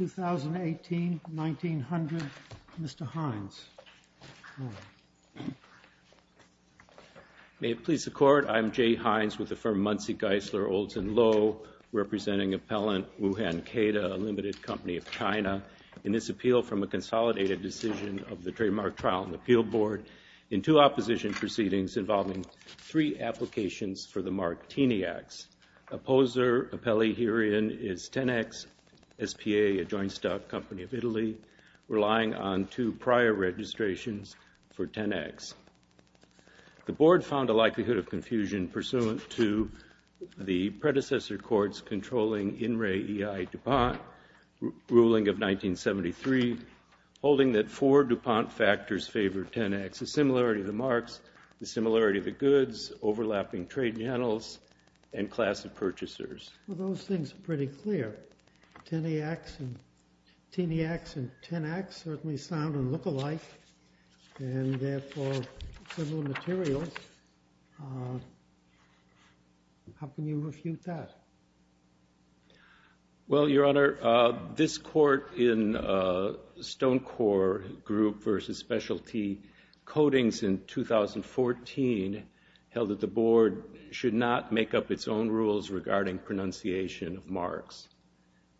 2018-1900. Mr. Hines. May it please the Court, I am Jay Hines with the firm Muncie Geisler Olds & Low, representing appellant Wuhan Keda, a limited company of China, in this appeal from a consolidated decision of the Trademark Trial and Appeal Board in two opposition proceedings involving three applications for the Martini Acts. Opposer appellee herein is Tenax S.p.A., a joint stock company of Italy, relying on two prior registrations for Tenax. The Board found a likelihood of confusion pursuant to the predecessor court's controlling in re e.i. DuPont ruling of 1973, holding that four DuPont factors favored Tenax. The similarity of the marks, the similarity of the goods, overlapping trade channels, and class of purchasers. Well, those things are pretty clear. Tenax and Tenax certainly sound and look alike, and therefore similar materials. How can you refute that? Well, Your Honor, this court in Stonecorp Group v. Specialty Codings in 2014 held that the Board should not make up its own rules regarding pronunciation of marks.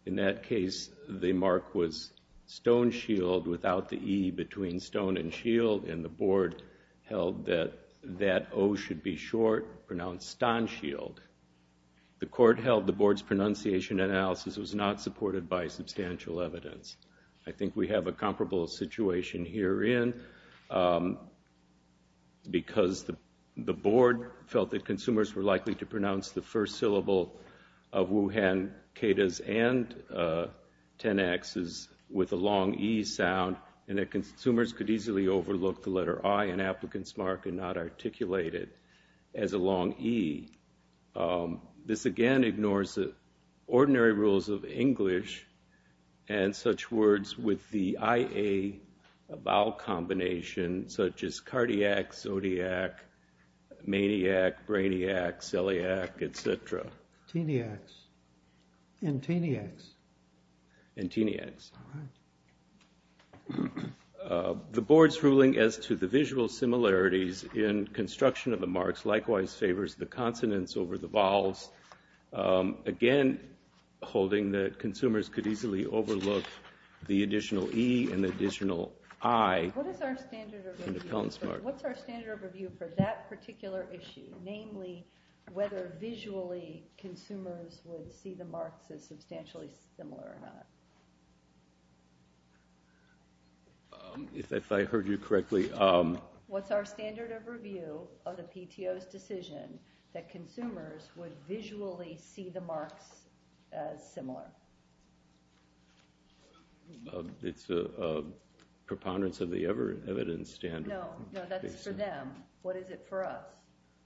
In that case, the mark was stone shield without the e between stone and shield, and the Board held that that o should be short, pronounced stone shield. The court held the Board's pronunciation analysis was not supported by substantial evidence. I think we have a comparable situation herein because the Board felt that consumers were likely to pronounce the first syllable of Wuhan, Kedahs, and Tenaxes with a long e sound, and that consumers could easily overlook the letter i in applicant's mark and not articulate it as a long e. This again ignores the ordinary rules of English and such words with the ia vowel combination, such as Brainiac, Celiac, et cetera. The Board's ruling as to the visual similarities in construction of the marks likewise favors the consonants over the vowels, again holding that consumers could easily overlook the additional e and the additional i in appellant's mark. What's our standard of review for that particular issue, namely whether visually consumers would see the marks as substantially similar or not? If I heard you correctly. What's our standard of review of the PTO's decision that consumers would visually see the marks as substantially similar or not? It's a preponderance of the evidence standard. No, that's for them. What is it for us?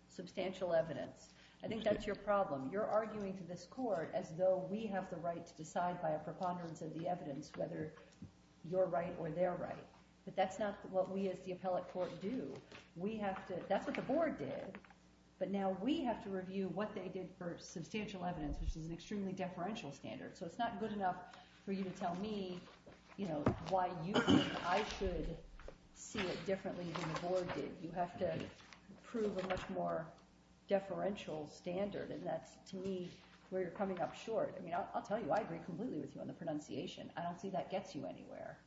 Substantial evidence. I think that's your problem. You're arguing to this court as though we have the right to decide by a preponderance of the evidence whether you're right or they're right. But that's not what we as the appellate court do. We have to, that's what the Board did, but now we have to review what they did for substantial evidence, which is an extremely deferential standard. So it's not good enough for you to tell me, you know, why you think I should see it differently than the Board did. You have to prove a much more deferential standard, and that's to me where you're coming up short. I mean, I'll tell you, I agree completely with you on the pronunciation. I don't see that gets you anywhere,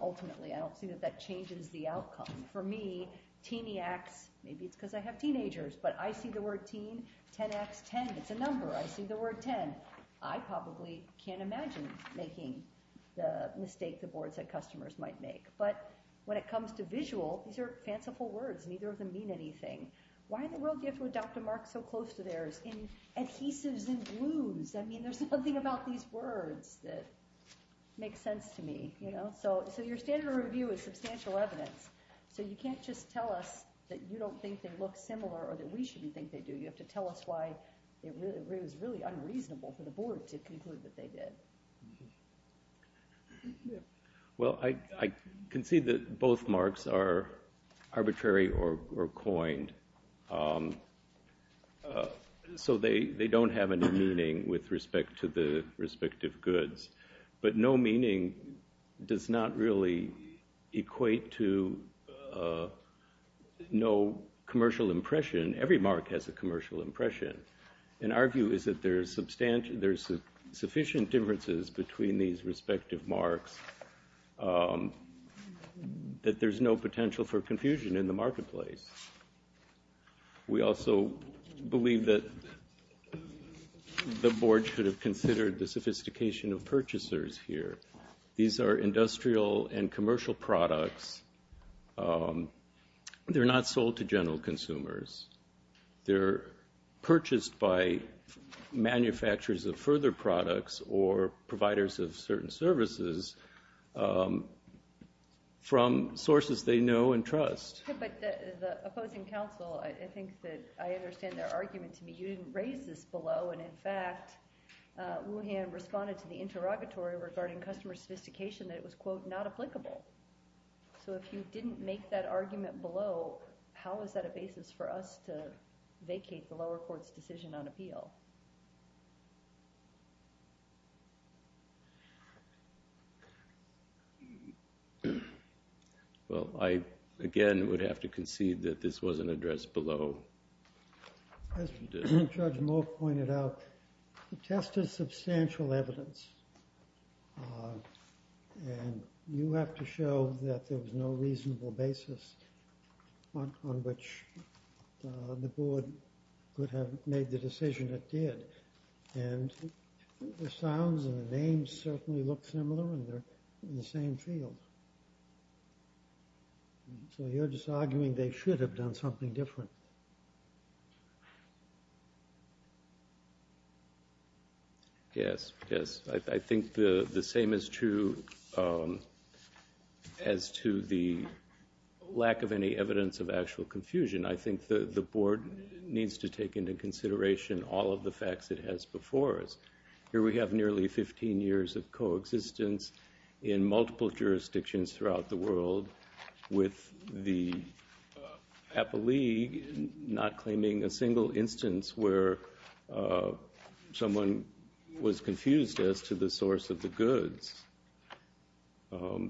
ultimately. I don't see that that changes the outcome. For me, teeniacs, maybe it's because I have teenagers, but I see the word teen, 10x10, it's a number. I see the word 10. I probably can't imagine making the mistake the Board said customers might make. But when it comes to visual, these are fanciful words. Neither of them mean anything. Why in the world do you have to adopt a mark so close to theirs in adhesives and glues? I mean, there's nothing about these words that makes sense to me. You know, so your standard of review is substantial evidence. So you can't just tell us that you don't think they look similar or that we shouldn't think they do. You have to tell us why it was really unreasonable for the Board to conclude that they did. Well, I can see that both marks are arbitrary or coined. So they don't have any meaning with respect to the respective goods, but no meaning does not really equate to no commercial impression. Every mark has a commercial impression. And our view is that there's sufficient differences between these respective marks, that there's no potential for confusion in the marketplace. We also believe that the Board should have considered the sophistication of purchasers here. These are industrial and commercial products. They're not sold to general consumers. They're purchased by manufacturers of further products or providers of certain services from sources they know and trust. But the opposing counsel, I think that I understand their argument to me. You didn't raise this below. And in fact, Wuhan responded to the interrogatory regarding customer sophistication that it was, quote, not applicable. So if you didn't make that argument below, how is that a basis for us to vacate the lower court's decision on appeal? Well, I, again, would have to concede that this wasn't addressed below. As Judge Moore pointed out, the test is substantial evidence. And you have to show that there was no reasonable basis on which the Board could have made the decision it did. And the sounds and the names certainly look similar, and they're in the same field. So you're just arguing they should have done something different. Yes, yes, I think the same is true as to the lack of any evidence of actual confusion. I think the Board needs to take into consideration all of the facts it has before us. Here we have nearly 15 years of coexistence in multiple jurisdictions throughout the world, with the APA League not claiming a single instance where someone was confused as to the source of the goods. The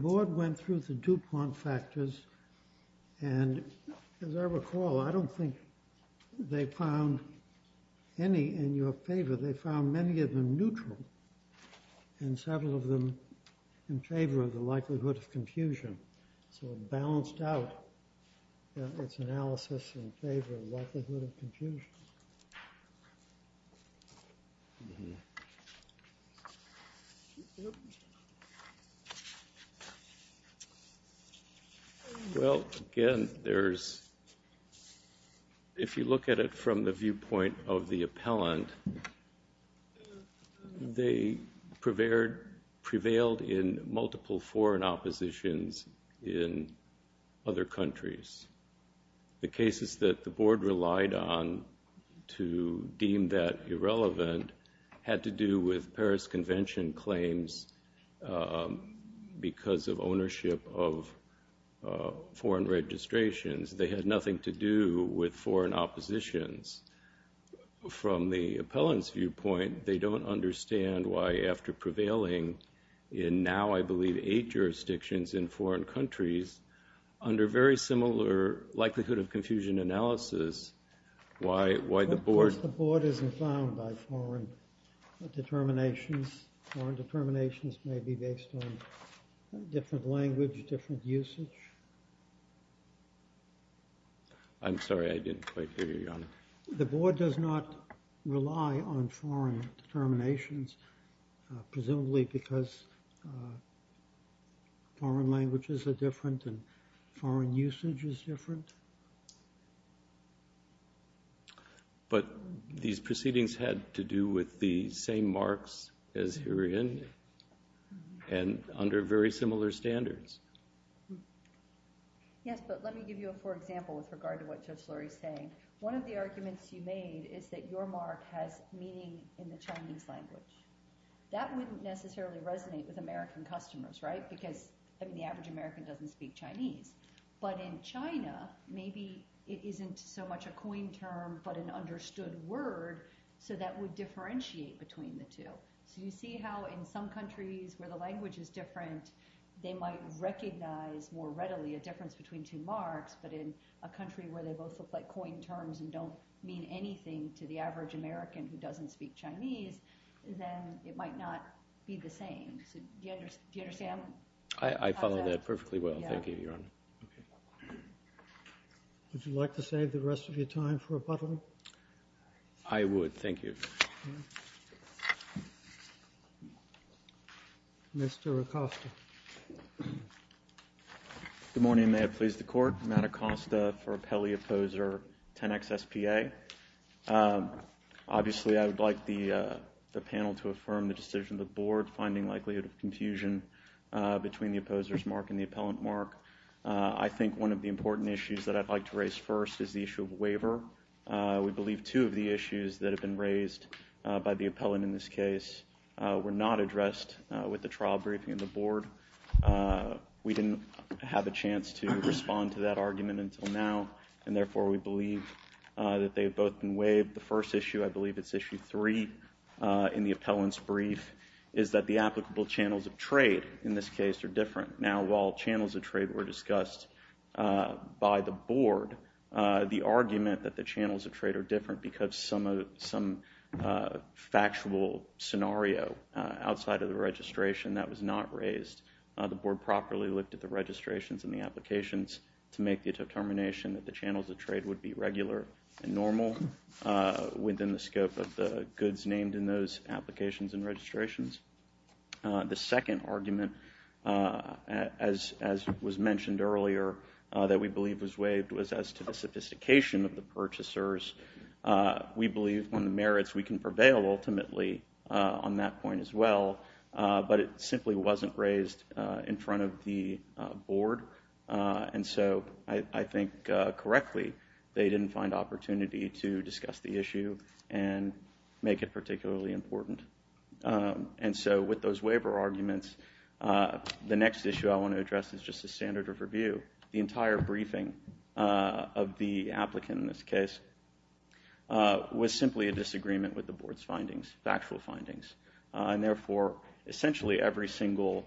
Board went through the DuPont factors, and as I recall, I don't think they found any in your favor. They found many of them neutral, and several of them in favor of the likelihood of confusion. So it balanced out its analysis in favor of likelihood of confusion. Well, again, if you look at it from the viewpoint of the appellant, they prevailed in multiple foreign oppositions in other countries. The cases that the Board relied on to deem that irrelevant had to do with Paris Convention claims because of ownership of foreign registrations. They had nothing to do with foreign oppositions. From the appellant's viewpoint, they don't understand why after prevailing in now, I believe, in foreign countries under very similar likelihood of confusion analysis, why the Board... Of course, the Board isn't bound by foreign determinations. Foreign determinations may be based on different language, different usage. I'm sorry, I didn't quite hear you, Your Honor. The Board does not rely on foreign determinations, presumably because foreign languages are different and foreign usage is different? But these proceedings had to do with the same marks as herein and under very similar standards. Yes, but let me give you a poor example with regard to what Judge Lurie is saying. One of the arguments you made is that your mark has meaning in the Chinese language. That wouldn't necessarily resonate with American customers, right? Because the average American doesn't speak Chinese. But in China, maybe it isn't so much a coin term but an understood word, so that would differentiate between the two. So you see how in some countries where the language is different, they might recognize more readily a difference between two marks, but in a country where they both look like coin terms and don't mean anything to the average American who doesn't speak Chinese, then it might not be the same. Do you understand how that... I follow that perfectly well, thank you, Your Honor. Would you like to save the rest of your time for rebuttal? I would, thank you. Mr. Acosta. Good morning. May it please the Court. Matt Acosta for appellee opposer 10XSPA. Obviously I would like the panel to affirm the decision of the Board finding likelihood of confusion between the opposer's mark and the appellant mark. I think one of the important issues that I'd like to raise first is the issue of waiver. We believe two of the issues that have been raised by the appellant in this case were not addressed with the trial briefing of the Board. We didn't have a chance to respond to that argument until now, and therefore we believe that they have both been waived. The first issue, I believe it's issue three in the appellant's brief, is that the applicable channels of trade in this case are different. Now, while channels of trade were discussed by the Board, the argument that the channels of trade are different because some factual scenario outside of the registration that was not raised. The Board properly looked at the registrations and the applications to make the determination that the channels of trade would be regular and normal within the scope of the goods named in those applications and registrations. The second argument, as was mentioned earlier, that we believe was waived was as to the sophistication of the purchasers. We believe on the merits we can prevail ultimately on that point as well, but it simply wasn't raised in front of the Board, and so I think correctly they didn't find opportunity to discuss the issue and make it particularly important. And so with those waiver arguments, the next issue I want to address is just the standard of review. The entire briefing of the applicant in this case was simply a disagreement with the Board's findings, factual findings, and therefore essentially every single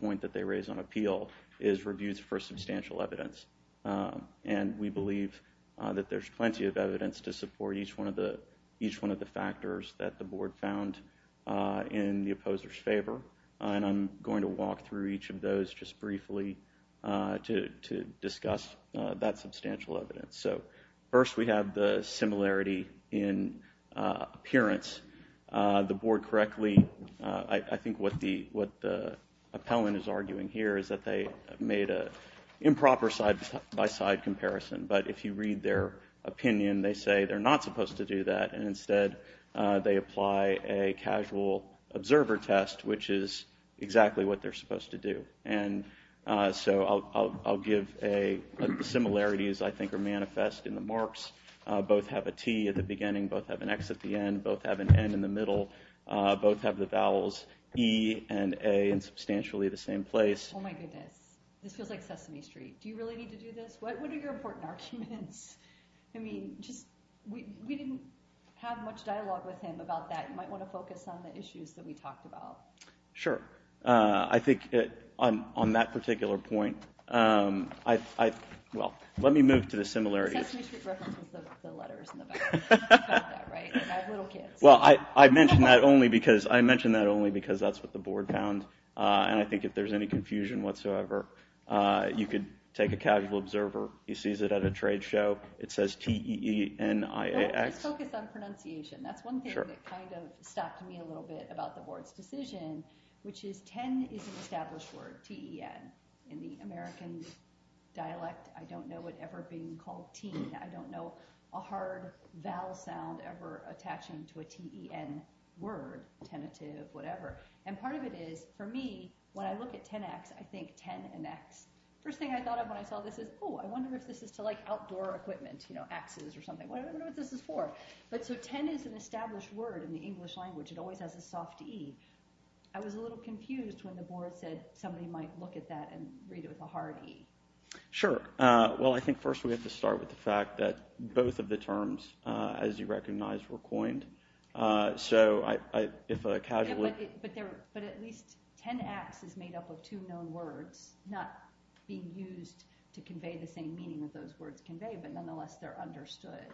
point that they raise on appeal is reviewed for substantial evidence, and we believe that there's plenty of evidence to support each one of the factors that the Board found in the opposer's favor, and I'm going to walk through each of those just briefly to discuss that substantial evidence. So first we have the similarity in appearance. The Board correctly, I think what the appellant is arguing here is that they made an improper side-by-side comparison, but if you read their opinion they say they're not supposed to do that and instead they apply a casual observer test, which is exactly what they're supposed to do. And so I'll give a similarity as I think are manifest in the marks. Both have a T at the beginning, both have an X at the end, both have an N in the middle, both have the vowels E and A in substantially the same place. Oh my goodness, this feels like Sesame Street. Do you really need to do this? What are your important arguments? I mean, we didn't have much dialogue with him about that. You might want to focus on the issues that we talked about. Sure. I think on that particular point, well, let me move to the similarities. Sesame Street references the letters in the back. You've heard that, right? I have little kids. Well, I mention that only because that's what the Board found, and I think if there's any confusion whatsoever you could take a casual observer. He sees it at a trade show. It says T-E-E-N-I-A-X. Well, let's focus on pronunciation. That's one thing that kind of stopped me a little bit about the Board's decision, which is ten is an established word, T-E-N. In the American dialect, I don't know it ever being called teen. I don't know a hard vowel sound ever attaching to a T-E-N word, tentative, whatever. And part of it is, for me, when I look at ten X, I think ten and X. The first thing I thought of when I saw this is, oh, I wonder if this is to, like, outdoor equipment, you know, axes or something. I wonder what this is for. But so ten is an established word in the English language. It always has a soft E. I was a little confused when the Board said somebody might look at that and read it with a hard E. Sure. Well, I think first we have to start with the fact that both of the terms, as you recognize, were coined. So if a casual... But at least ten X is made up of two known words, not being used to convey the same meaning that those words convey, but nonetheless they're understood.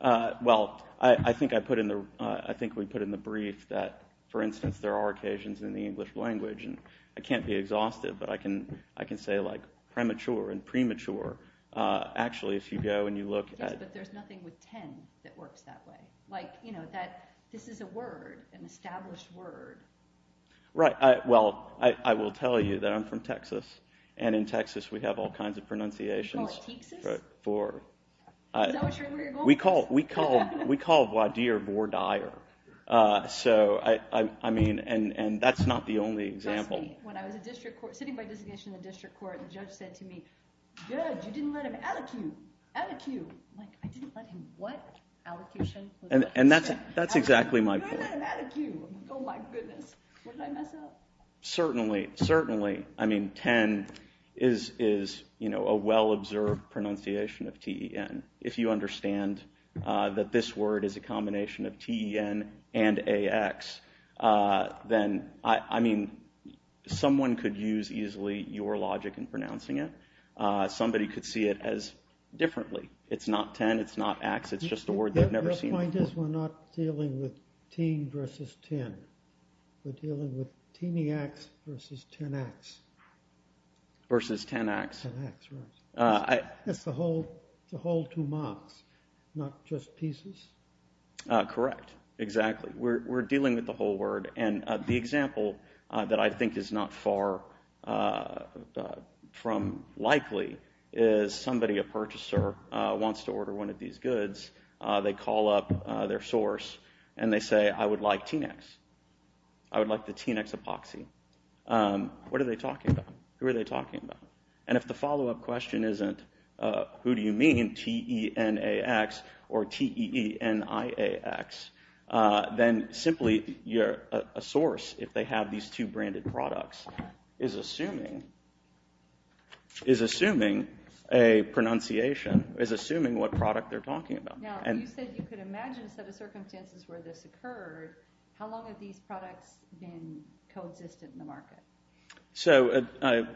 Well, I think we put in the brief that, for instance, there are occasions in the English language, and I can't be exhaustive, but I can say, like, premature and premature. Actually, if you go and you look at... Yes, but there's nothing with ten that works that way. Like, you know, that this is a word, an established word. Right. Well, I will tell you that I'm from Texas, and in Texas we have all kinds of pronunciations. You call it Teeksis? Is that what you're going with? We call it voir dire. So, I mean, and that's not the only example. When I was sitting by designation in the district court, the judge said to me, Good, you didn't let him at-a-cue. At-a-cue. I'm like, I didn't let him what? At-a-cue-tion? And that's exactly my point. You didn't let him at-a-cue. I'm like, oh, my goodness. What did I mess up? Certainly. Certainly. I mean, ten is a well-observed pronunciation of T-E-N. If you understand that this word is a combination of T-E-N and A-X, then, I mean, someone could use easily your logic in pronouncing it. Somebody could see it as differently. It's not ten. It's not ax. It's just a word they've never seen before. Your point is we're not dealing with teen versus ten. We're dealing with teeny ax versus ten ax. Versus ten ax. Ten ax, right. It's the whole two marks, not just pieces. Correct. Exactly. We're dealing with the whole word, and the example that I think is not far from likely is somebody, a purchaser, wants to order one of these goods. They call up their source, and they say, I would like teen ax. I would like the teen ax epoxy. What are they talking about? Who are they talking about? And if the follow-up question isn't, who do you mean, T-E-N-A-X or T-E-E-N-I-A-X, then simply a source, if they have these two branded products, is assuming a pronunciation, is assuming what product they're talking about. Now, you said you could imagine a set of circumstances where this occurred. How long have these products been coexistent in the market?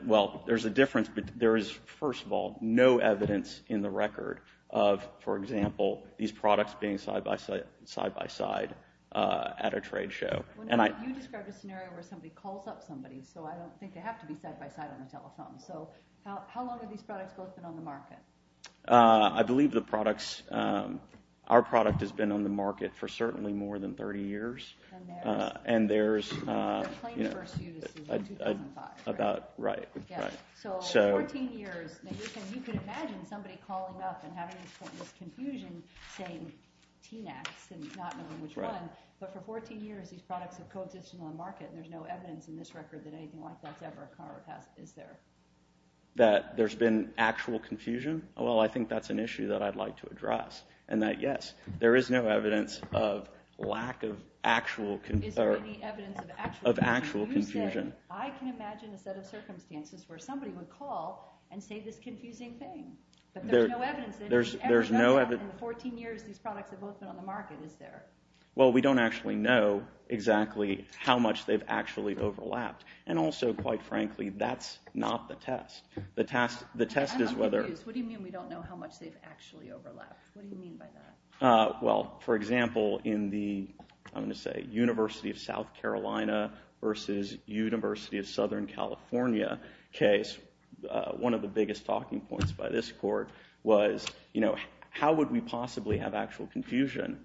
Well, there's a difference, but there is, first of all, no evidence in the record of, for example, these products being side by side at a trade show. You described a scenario where somebody calls up somebody, so I don't think they have to be side by side on a telephone. So how long have these products both been on the market? I believe our product has been on the market for certainly more than 30 years. And there's, you know, about, right. So 14 years. Now, you can imagine somebody calling up and having this confusion saying T-N-A-X and not knowing which one. But for 14 years, these products have coexisted on the market, and there's no evidence in this record that anything like that's ever occurred. Is there? That there's been actual confusion? Well, I think that's an issue that I'd like to address, and that, yes, there is no evidence of lack of actual confusion. Is there any evidence of actual confusion? Of actual confusion. You say, I can imagine a set of circumstances where somebody would call and say this confusing thing, but there's no evidence that anything ever occurred in the 14 years these products have both been on the market. Is there? Well, we don't actually know exactly how much they've actually overlapped. And also, quite frankly, that's not the test. I'm confused. What do you mean we don't know how much they've actually overlapped? What do you mean by that? Well, for example, in the, I'm going to say, University of South Carolina versus University of Southern California case, one of the biggest talking points by this court was, you know, how would we possibly have actual confusion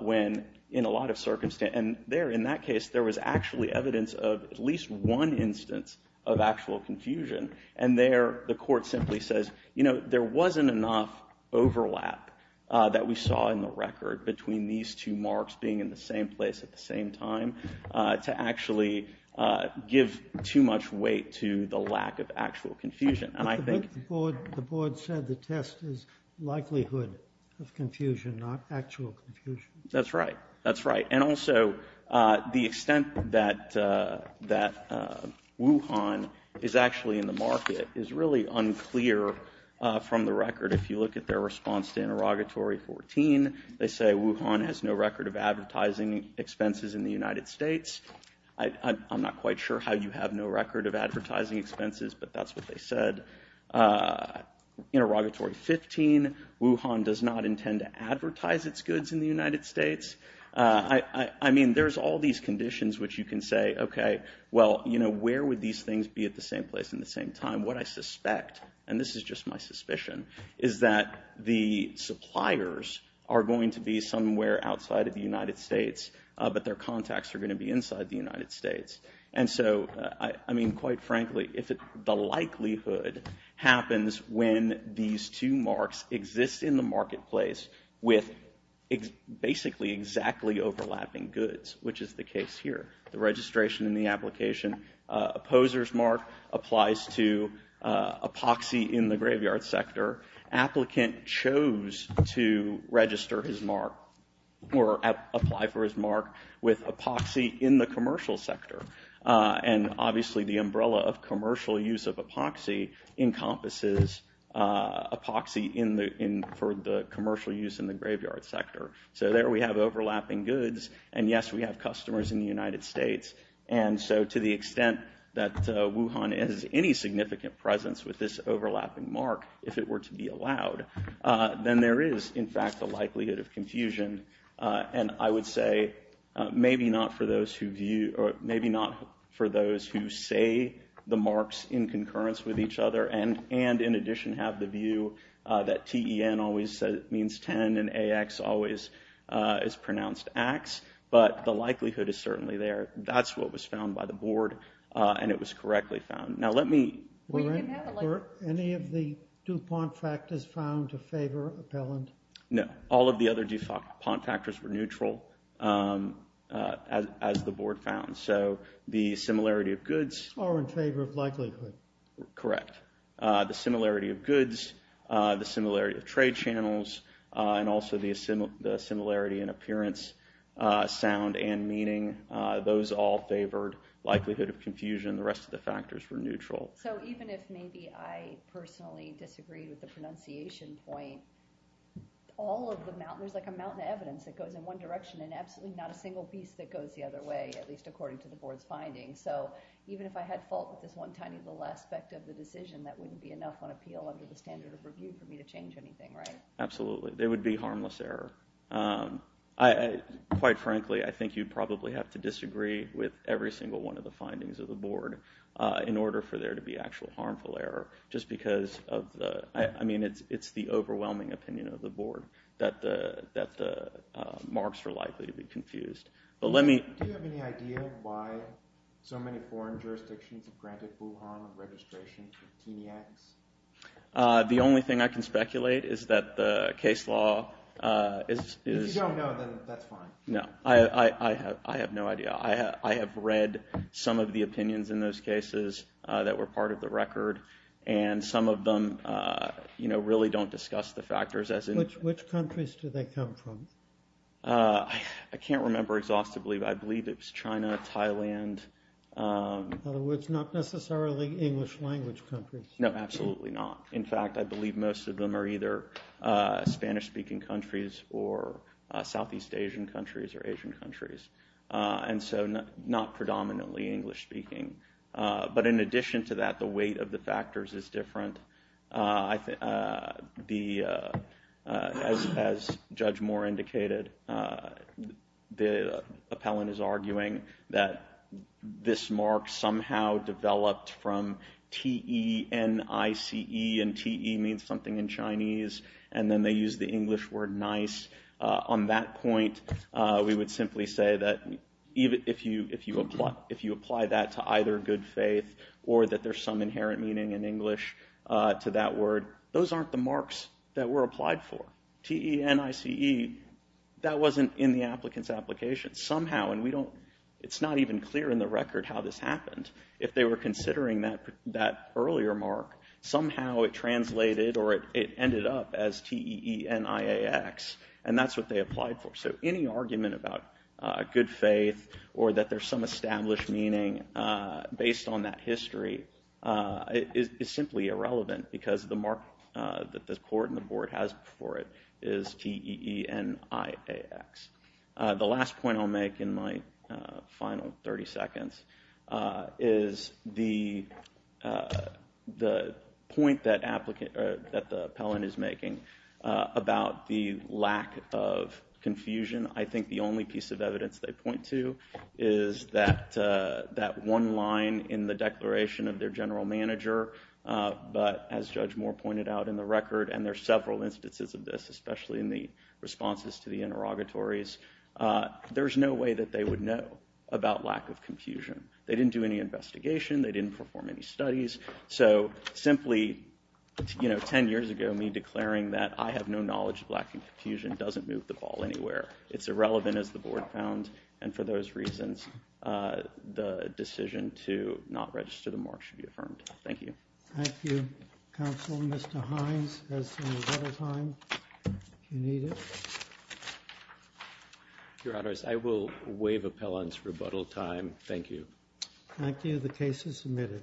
when in a lot of circumstances. And there, in that case, there was actually evidence of at least one instance of actual confusion. And there the court simply says, you know, there wasn't enough overlap that we saw in the record between these two marks being in the same place at the same time to actually give too much weight to the lack of actual confusion. And I think. The board said the test is likelihood of confusion, not actual confusion. That's right. That's right. And also, the extent that Wuhan is actually in the market is really unclear from the record. If you look at their response to interrogatory 14, they say Wuhan has no record of advertising expenses in the United States. I'm not quite sure how you have no record of advertising expenses, but that's what they said. Interrogatory 15, Wuhan does not intend to advertise its goods in the United States. I mean, there's all these conditions which you can say, OK, well, you know, where would these things be at the same place in the same time? What I suspect, and this is just my suspicion, is that the suppliers are going to be somewhere outside of the United States, but their contacts are going to be inside the United States. And so, I mean, quite frankly, the likelihood happens when these two marks exist in the marketplace with basically exactly overlapping goods, which is the case here. The registration and the application. Opposer's mark applies to epoxy in the graveyard sector. Applicant chose to register his mark or apply for his mark with epoxy in the commercial sector. And obviously, the umbrella of commercial use of epoxy encompasses epoxy for the commercial use in the graveyard sector. So there we have overlapping goods. And yes, we have customers in the United States. And so to the extent that Wuhan has any significant presence with this overlapping mark, if it were to be allowed, then there is, in fact, the likelihood of confusion. And I would say maybe not for those who view or maybe not for those who say the marks in concurrence with each other and in addition have the view that TEN always means 10 and AX always is pronounced axe. But the likelihood is certainly there. That's what was found by the board. And it was correctly found. Now let me. Were any of the DuPont factors found to favor appellant? No. All of the other DuPont factors were neutral as the board found. So the similarity of goods. Are in favor of likelihood. Correct. The similarity of goods, the similarity of trade channels, and also the similarity in appearance. Sound and meaning. Those all favored likelihood of confusion. The rest of the factors were neutral. So even if maybe I personally disagreed with the pronunciation point, all of the mountain, there's like a mountain of evidence that goes in one direction and absolutely not a single piece that goes the other way, at least according to the board's findings. So even if I had fault with this one tiny little aspect of the decision, that wouldn't be enough on appeal under the standard of review for me to change anything, right? Absolutely. There would be harmless error. Quite frankly, I think you'd probably have to disagree with every single one of the findings of the board in order for there to be actual harmful error. Just because of the, I mean, it's the overwhelming opinion of the board that the marks are likely to be confused. But let me. Do you have any idea why so many foreign jurisdictions have granted full harm of registration to the TENIACs? The only thing I can speculate is that the case law is. If you don't know, then that's fine. No, I have no idea. I have read some of the opinions in those cases that were part of the record. And some of them, you know, really don't discuss the factors as in. Which countries do they come from? I can't remember exhaustively, but I believe it's China, Thailand. In other words, not necessarily English language countries. No, absolutely not. In fact, I believe most of them are either Spanish-speaking countries or Southeast Asian countries or Asian countries. And so not predominantly English speaking. But in addition to that, the weight of the factors is different. As Judge Moore indicated, the appellant is arguing that this mark somehow developed from T-E-N-I-C-E. And T-E means something in Chinese. And then they use the English word nice. On that point, we would simply say that if you apply that to either good faith or that there's some inherent meaning in English to that word, those aren't the marks that were applied for. T-E-N-I-C-E, that wasn't in the applicant's application. Somehow, and we don't, it's not even clear in the record how this happened. If they were considering that earlier mark, somehow it translated or it ended up as T-E-E-N-I-A-X. And that's what they applied for. So any argument about good faith or that there's some established meaning based on that history is simply irrelevant because the mark that the court and the board has for it is T-E-E-N-I-A-X. The last point I'll make in my final 30 seconds is the point that the appellant is making about the lack of confusion. I think the only piece of evidence they point to is that one line in the declaration of their general manager. But as Judge Moore pointed out in the record, and there are several instances of this, especially in the responses to the interrogatories, there's no way that they would know about lack of confusion. They didn't do any investigation. They didn't perform any studies. So simply, 10 years ago, me declaring that I have no knowledge of lack of confusion doesn't move the ball anywhere. It's irrelevant, as the board found. And for those reasons, the decision to not register the mark should be affirmed. Thank you. Thank you. Counsel, Mr. Hines has some rebuttal time, if you need it. Your Honors, I will waive appellant's rebuttal time. Thank you. Thank you. The case is submitted.